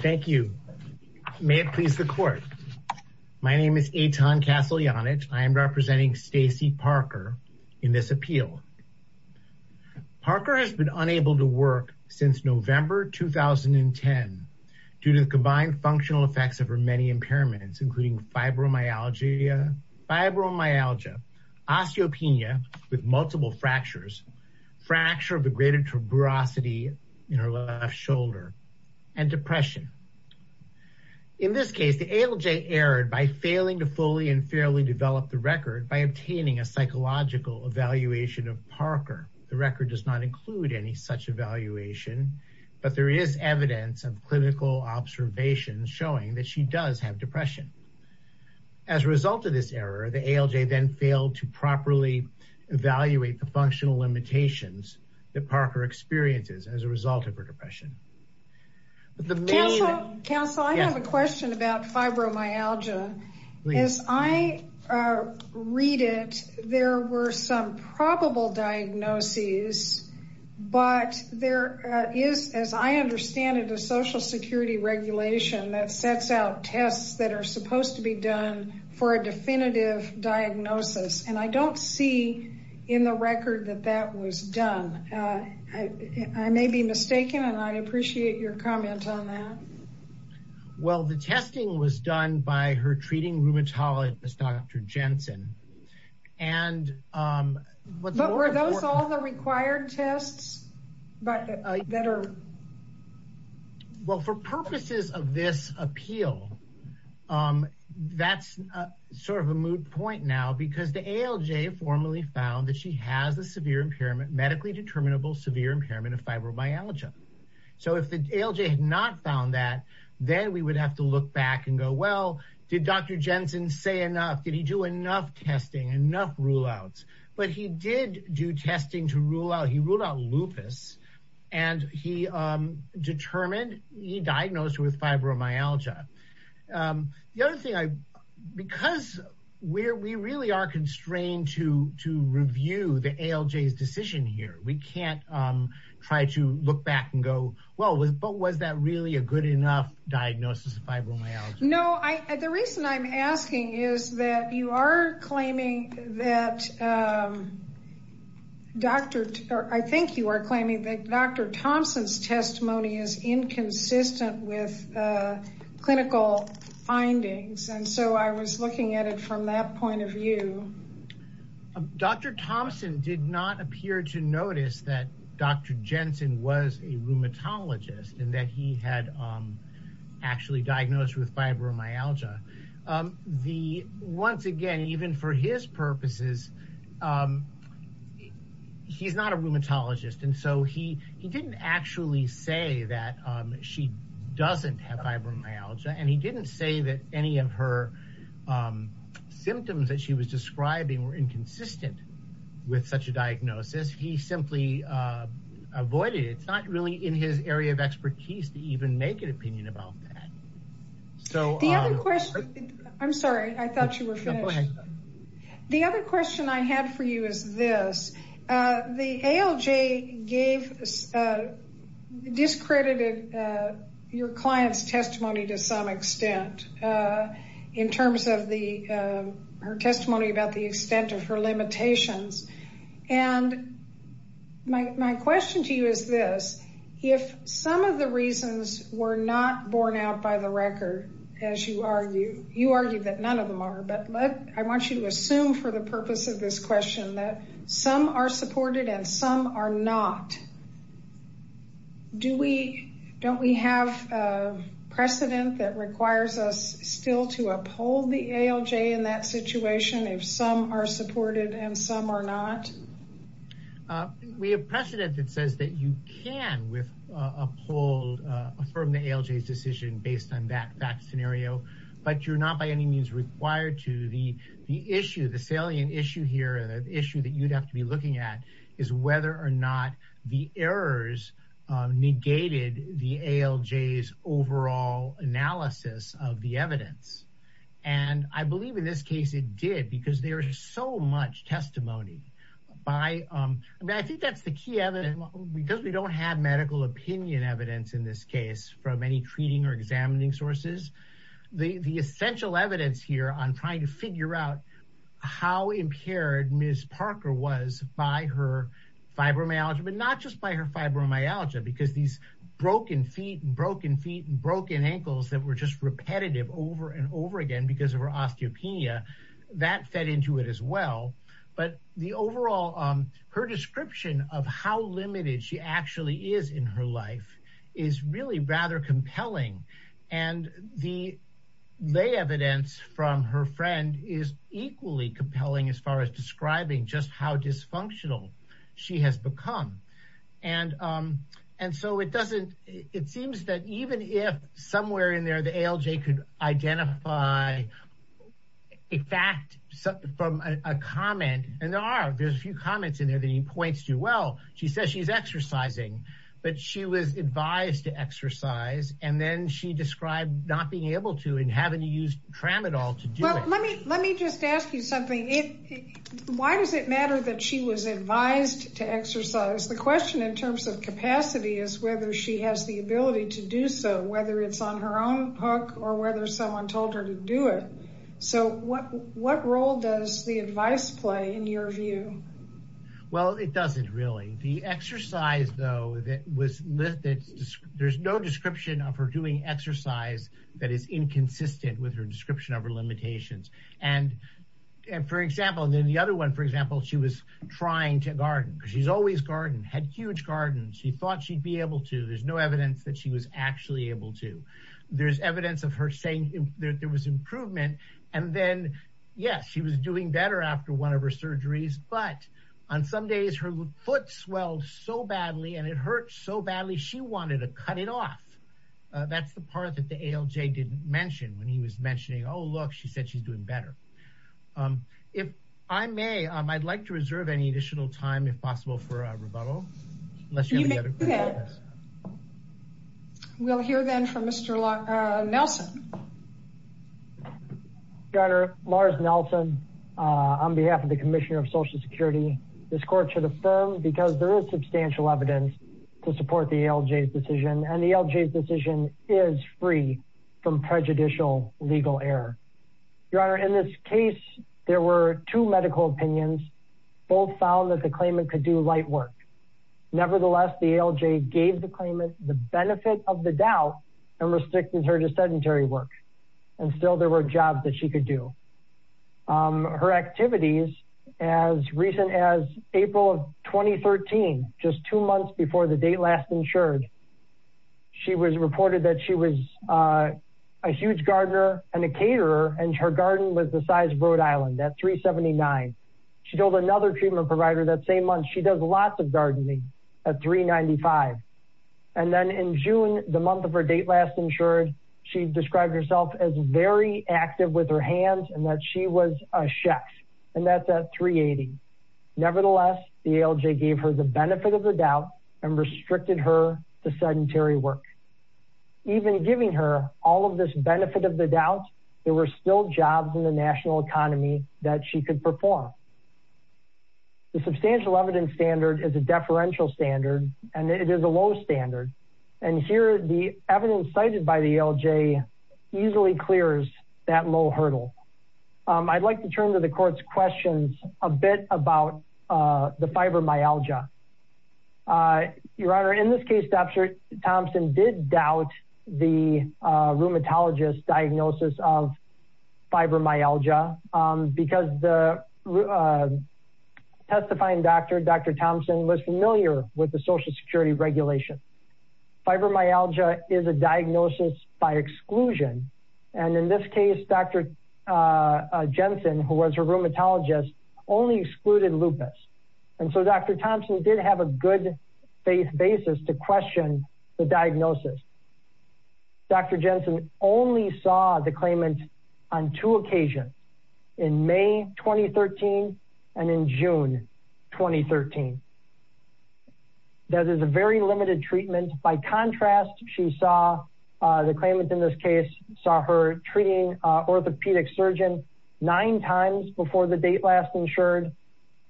Thank you. May it please the court. My name is Eitan Castellanich. I am representing Stacy Parker in this appeal. Parker has been unable to work since November 2010 due to the combined functional effects of her many impairments including fibromyalgia, osteopenia with multiple fractures, fracture of the greater tuberosity in her left shoulder, and depression. In this case, the ALJ erred by failing to fully and fairly develop the record by obtaining a psychological evaluation of Parker. The record does not include any such evaluation, but there is evidence of clinical observations showing that she does have depression. As a result of this error, the ALJ then failed to properly evaluate the functional limitations that Parker experiences as a result of her depression. Counsel, I have a question about fibromyalgia. As I read it, there were some probable diagnoses, but there is, as I understand it, a social security regulation that I do not see in the record that that was done. I may be mistaken, and I would appreciate your comment on that. Well, the testing was done by her treating rheumatologist, Dr. Jensen. But were those all the required tests that are? Well, for purposes of this appeal, that's sort of a moot point now because the ALJ formally found that she has a severe impairment, medically determinable severe impairment of fibromyalgia. So if the ALJ had not found that, then we would have to look back and go, well, did Dr. Jensen say enough? Did he do enough testing, enough rule-outs? But he did do testing to rule out. He ruled out lupus, and he determined, he diagnosed her with fibromyalgia. The other thing, because we really are constrained to review the ALJ's decision here, we can't try to look back and go, well, but was that really a good enough diagnosis of fibromyalgia? No, the reason I'm asking is that you are claiming that Dr., or I think you are claiming that Dr. Thompson's testimony is inconsistent with clinical findings. And so I was looking at it from that point of view. Dr. Thompson did not appear to notice that Dr. Jensen was a rheumatologist and that he had actually diagnosed with fibromyalgia. The, once again, even for his purposes, um, he's not a rheumatologist. And so he didn't actually say that she doesn't have fibromyalgia, and he didn't say that any of her symptoms that she was describing were inconsistent with such a diagnosis. He simply avoided it. It's not really in his area of expertise to even make an opinion about that. So the other question, I'm sorry, I thought you were finished. The other question I had for you is this. The ALJ gave, discredited your client's testimony to some extent, in terms of her testimony about the extent of her limitations. And my question to you is this. If some of the reasons were not borne out by the record, as you argue, you argue that none of them are, but let, I want you to assume for the purpose of this question that some are supported and some are not. Do we, don't we have a precedent that requires us still to uphold the ALJ in that situation if some are supported and some are not? We have precedent that says that you can with uphold, affirm the ALJ's decision based on that fact scenario, but you're not by any means required to. The issue, the salient issue here, the issue that you'd have to be looking at is whether or not the errors negated the ALJ's overall analysis of the evidence. And I believe in this case it did because there is so much testimony by, I mean, I think that's the key evidence because we don't have medical opinion evidence in this case from any treating or examining sources. The essential evidence here on trying to figure out how impaired Ms. Parker was by her fibromyalgia, but not just by her fibromyalgia because these broken feet and broken feet and broken ankles that were just repetitive over and over again because of her osteopenia, that fed into it as well. But the overall, her description of how limited she actually is in her life is really rather compelling. And the lay evidence from her friend is equally compelling as far as describing just how dysfunctional she has become. And so it doesn't, it seems that even if somewhere in there the ALJ could identify a fact from a comment, and there are, there's a few comments in there that he points to. Well, she says she's exercising, but she was advised to exercise and then she described not being able to and having to use tramadol to do it. Well, let me just ask you something. Why does it matter that she was advised to exercise? The question in terms of capacity is whether she has the ability to do so, whether it's on her own hook or whether someone told her to do it. So what role does the advice play in your view? Well, it doesn't really. The exercise though that was, there's no description of her doing exercise that is inconsistent with her description of her limitations. And for example, and then the other one, for example, she was trying to garden. She's always gardened, had huge gardens. She thought she'd be able to, there's no evidence that she was actually able to. There's evidence of her saying that there was improvement. And then yes, she was doing better after one of her surgeries, but on some days her foot swelled so badly and it hurt so badly, she wanted to cut it off. That's the part that the ALJ didn't mention when he was mentioning, oh, look, she said she's doing better. If I may, I'd like to reserve any additional time if possible for a rebuttal, unless you have a question. We'll hear then from Mr. Nelson. Your Honor, Lars Nelson on behalf of the Commissioner of Social Security. This court should affirm because there is substantial evidence to support the ALJ's decision and the ALJ's decision is free from prejudicial legal error. Your Honor, in this case, there were two nevertheless, the ALJ gave the claimant the benefit of the doubt and restricted her to sedentary work. And still there were jobs that she could do. Her activities as recent as April of 2013, just two months before the date last insured, she was reported that she was a huge gardener and a caterer and her garden was the size of Rhode Island at 379. She told another treatment provider that same month, she does lots of gardening at 395. And then in June, the month of her date last insured, she described herself as very active with her hands and that she was a chef and that's at 380. Nevertheless, the ALJ gave her the benefit of the doubt and restricted her to sedentary work. Even giving her all of this benefit of the doubt, there were still in the national economy that she could perform. The substantial evidence standard is a deferential standard and it is a low standard. And here the evidence cited by the ALJ easily clears that low hurdle. I'd like to turn to the court's questions a bit about the fibromyalgia. Your Honor, in this case, Dr. Thompson did doubt the rheumatologist's diagnosis of fibromyalgia because the testifying doctor, Dr. Thompson, was familiar with the social security regulation. Fibromyalgia is a diagnosis by exclusion. And in this case, Dr. Jensen, who was her rheumatologist, only excluded lupus. And so Dr. Thompson did have a good faith basis to question the diagnosis. Dr. Jensen only saw the claimant on two occasions, in May 2013 and in June 2013. That is a very limited treatment. By contrast, she saw the claimant in this case, saw her treating an orthopedic surgeon nine times before the date last insured,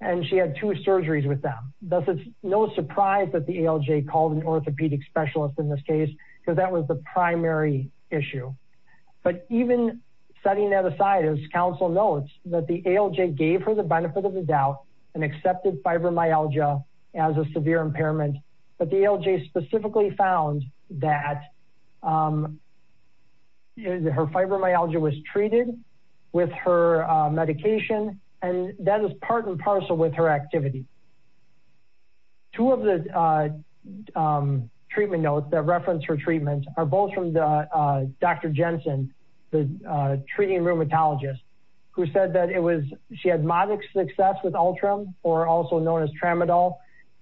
and she had two surgeries with them. Thus, it's no surprise that the ALJ called an orthopedic specialist in this case because that was the primary issue. But even setting that aside, as counsel notes, that the ALJ gave her the benefit of the doubt and accepted fibromyalgia as a severe impairment. But the ALJ specifically found that her fibromyalgia was treated with her medication, and that is part and parcel with her activity. Two of the treatment notes that reference her treatment are both from Dr. Jensen, the treating rheumatologist, who said that she had moderate success with Ultram, or also known as Tramadol,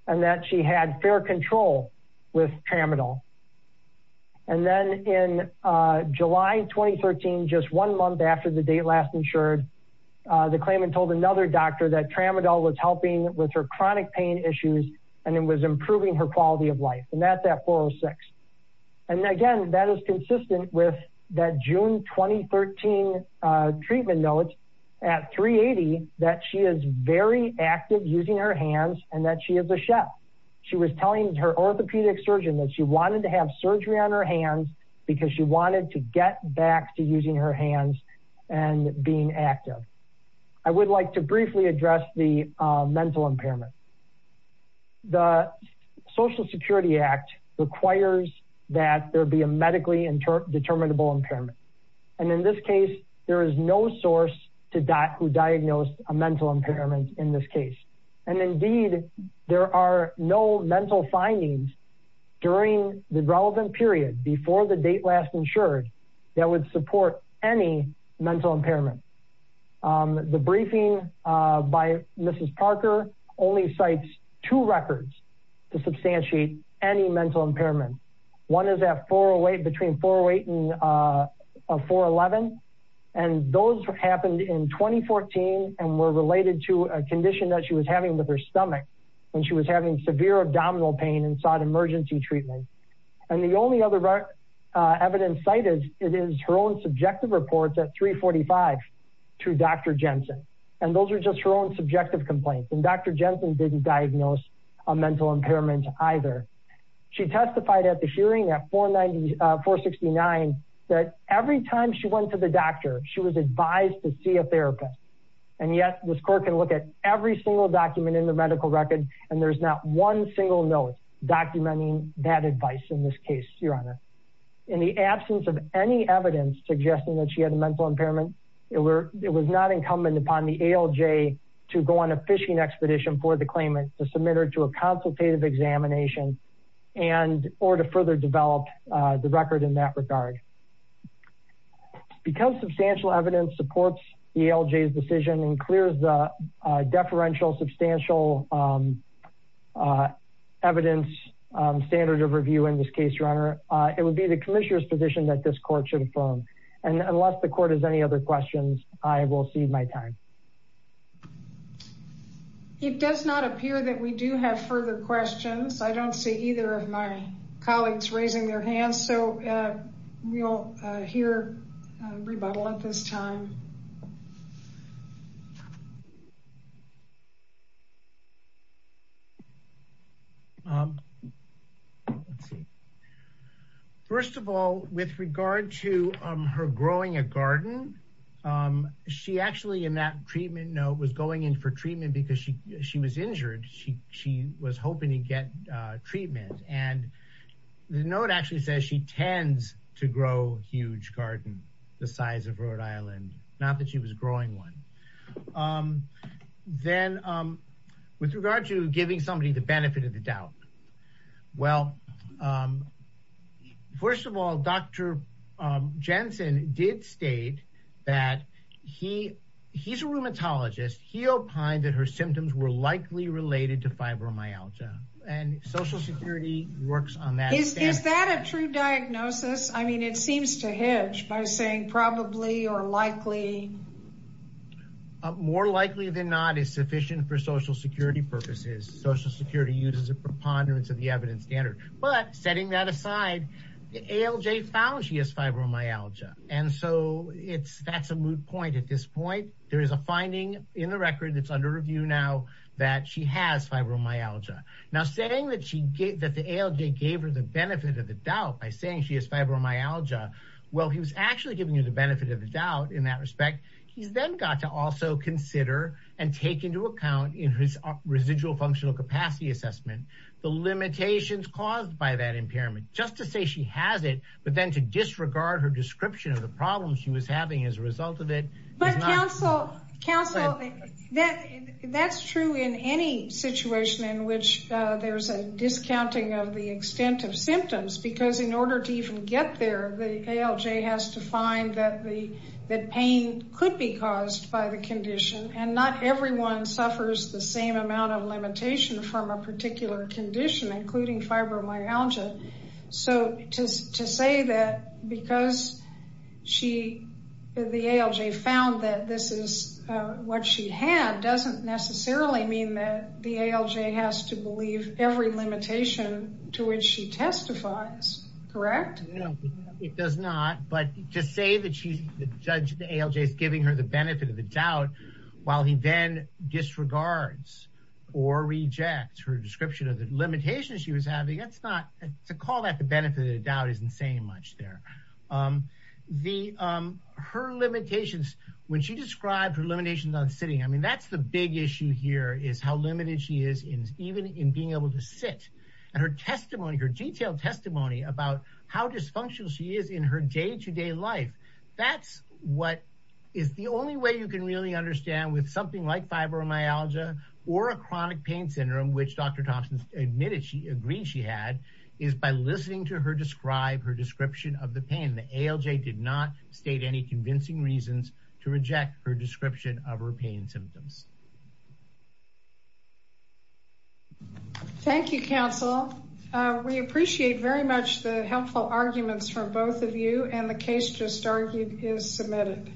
and that she had fair control with Tramadol. And then in July 2013, just one month after the date last insured, the claimant told another doctor that Tramadol was helping with her chronic pain issues and it was improving her quality of life. And then in June 2013 treatment notes, at 380, that she is very active using her hands and that she is a chef. She was telling her orthopedic surgeon that she wanted to have surgery on her hands because she wanted to get back to using her hands and being active. I would like to briefly address the mental impairment. The Social Security Act requires that there be a medically determinable impairment. And in this case, there is no source who diagnosed a mental impairment in this case. And indeed, there are no mental findings during the relevant period before the date last insured that would support any mental impairment. The briefing by Mrs. Parker only cites two records to substantiate any mental impairment. One is at 408, between 408 and 411. And those happened in 2014 and were related to a condition that she was having with her stomach when she was having severe abdominal pain and sought emergency treatment. And the only other evidence cited is her own subjective reports at 345 to Dr. Jensen. And those are just her own subjective complaints. And Dr. Jensen didn't diagnose a mental impairment either. She testified at the hearing at 469 that every time she went to the doctor, she was advised to see a therapist. And yet this court can look at every single document in the medical record, and there's not one single note documenting that advice in this case, Your Honor. In the absence of any evidence suggesting that she had a mental impairment, it was not incumbent upon the ALJ to go on a fishing expedition for the claimant to submit her to a consultative examination and or to further develop the record in that regard. Because substantial evidence supports the ALJ's decision and clears the deferential substantial evidence standard of review in this case, Your Honor, it would be the commissioner's position that this court should affirm. And unless the court has any other questions, I will cede my time. It does not appear that we do have further questions. I don't see either of my colleagues raising their hands, so we'll hear rebuttal at this time. Um, let's see. First of all, with regard to her growing a garden, she actually in that treatment note was going in for treatment because she was injured. She was hoping to get treatment. And the note actually says she tends to grow a huge garden the size of Rhode Island, not that she was growing one. Then, with regard to giving somebody the benefit of the doubt, well, first of all, Dr. Jensen did state that he he's a rheumatologist. He opined that her symptoms were likely related to fibromyalgia and Social Security works on that. Is that a true diagnosis? I mean, it seems to hedge by saying probably or likely. More likely than not is sufficient for Social Security purposes. Social Security uses a preponderance of the evidence standard. But setting that aside, the ALJ found she has fibromyalgia. And so it's that's a moot point. At this point, there is a finding in the record that's under review now that she has fibromyalgia. Now, saying that the ALJ gave her the benefit of the doubt by saying she has fibromyalgia, well, he was actually giving you the benefit of the doubt in that respect. He's then got to also consider and take into account in his residual functional capacity assessment the limitations caused by that impairment just to say she has it, but then to disregard her description of the problems she was having as a result of it. But counsel, counsel, that that's true in any situation in which there's a discounting of the extent of symptoms, because in order to even get there, the ALJ has to find that the pain could be caused by the condition. And not everyone suffers the same amount of limitation from a particular condition, including fibromyalgia. So to say that because she, the ALJ found that this is what she had doesn't necessarily mean that the ALJ has to believe every limitation to which she testifies. Correct? It does not. But to say that she's the judge, the ALJ is giving her the benefit of the doubt while he then disregards or rejects her description of the limitations she was having, that's not, to call that the benefit of the doubt isn't saying much there. Her limitations, when she described her limitations on sitting, I mean, that's the big issue here is how limited she is even in being able to sit. And her testimony, her detailed testimony about how dysfunctional she is in her day-to-day life, that's what is the only way you can really understand with something like fibromyalgia or a chronic pain syndrome, which Dr. Thompson admitted she agreed she had, is by listening to her describe her description of the pain. The ALJ did not state any convincing reasons to reject her description of her pain symptoms. Thank you, counsel. We appreciate very much the helpful arguments from both of you and the case just argued is submitted.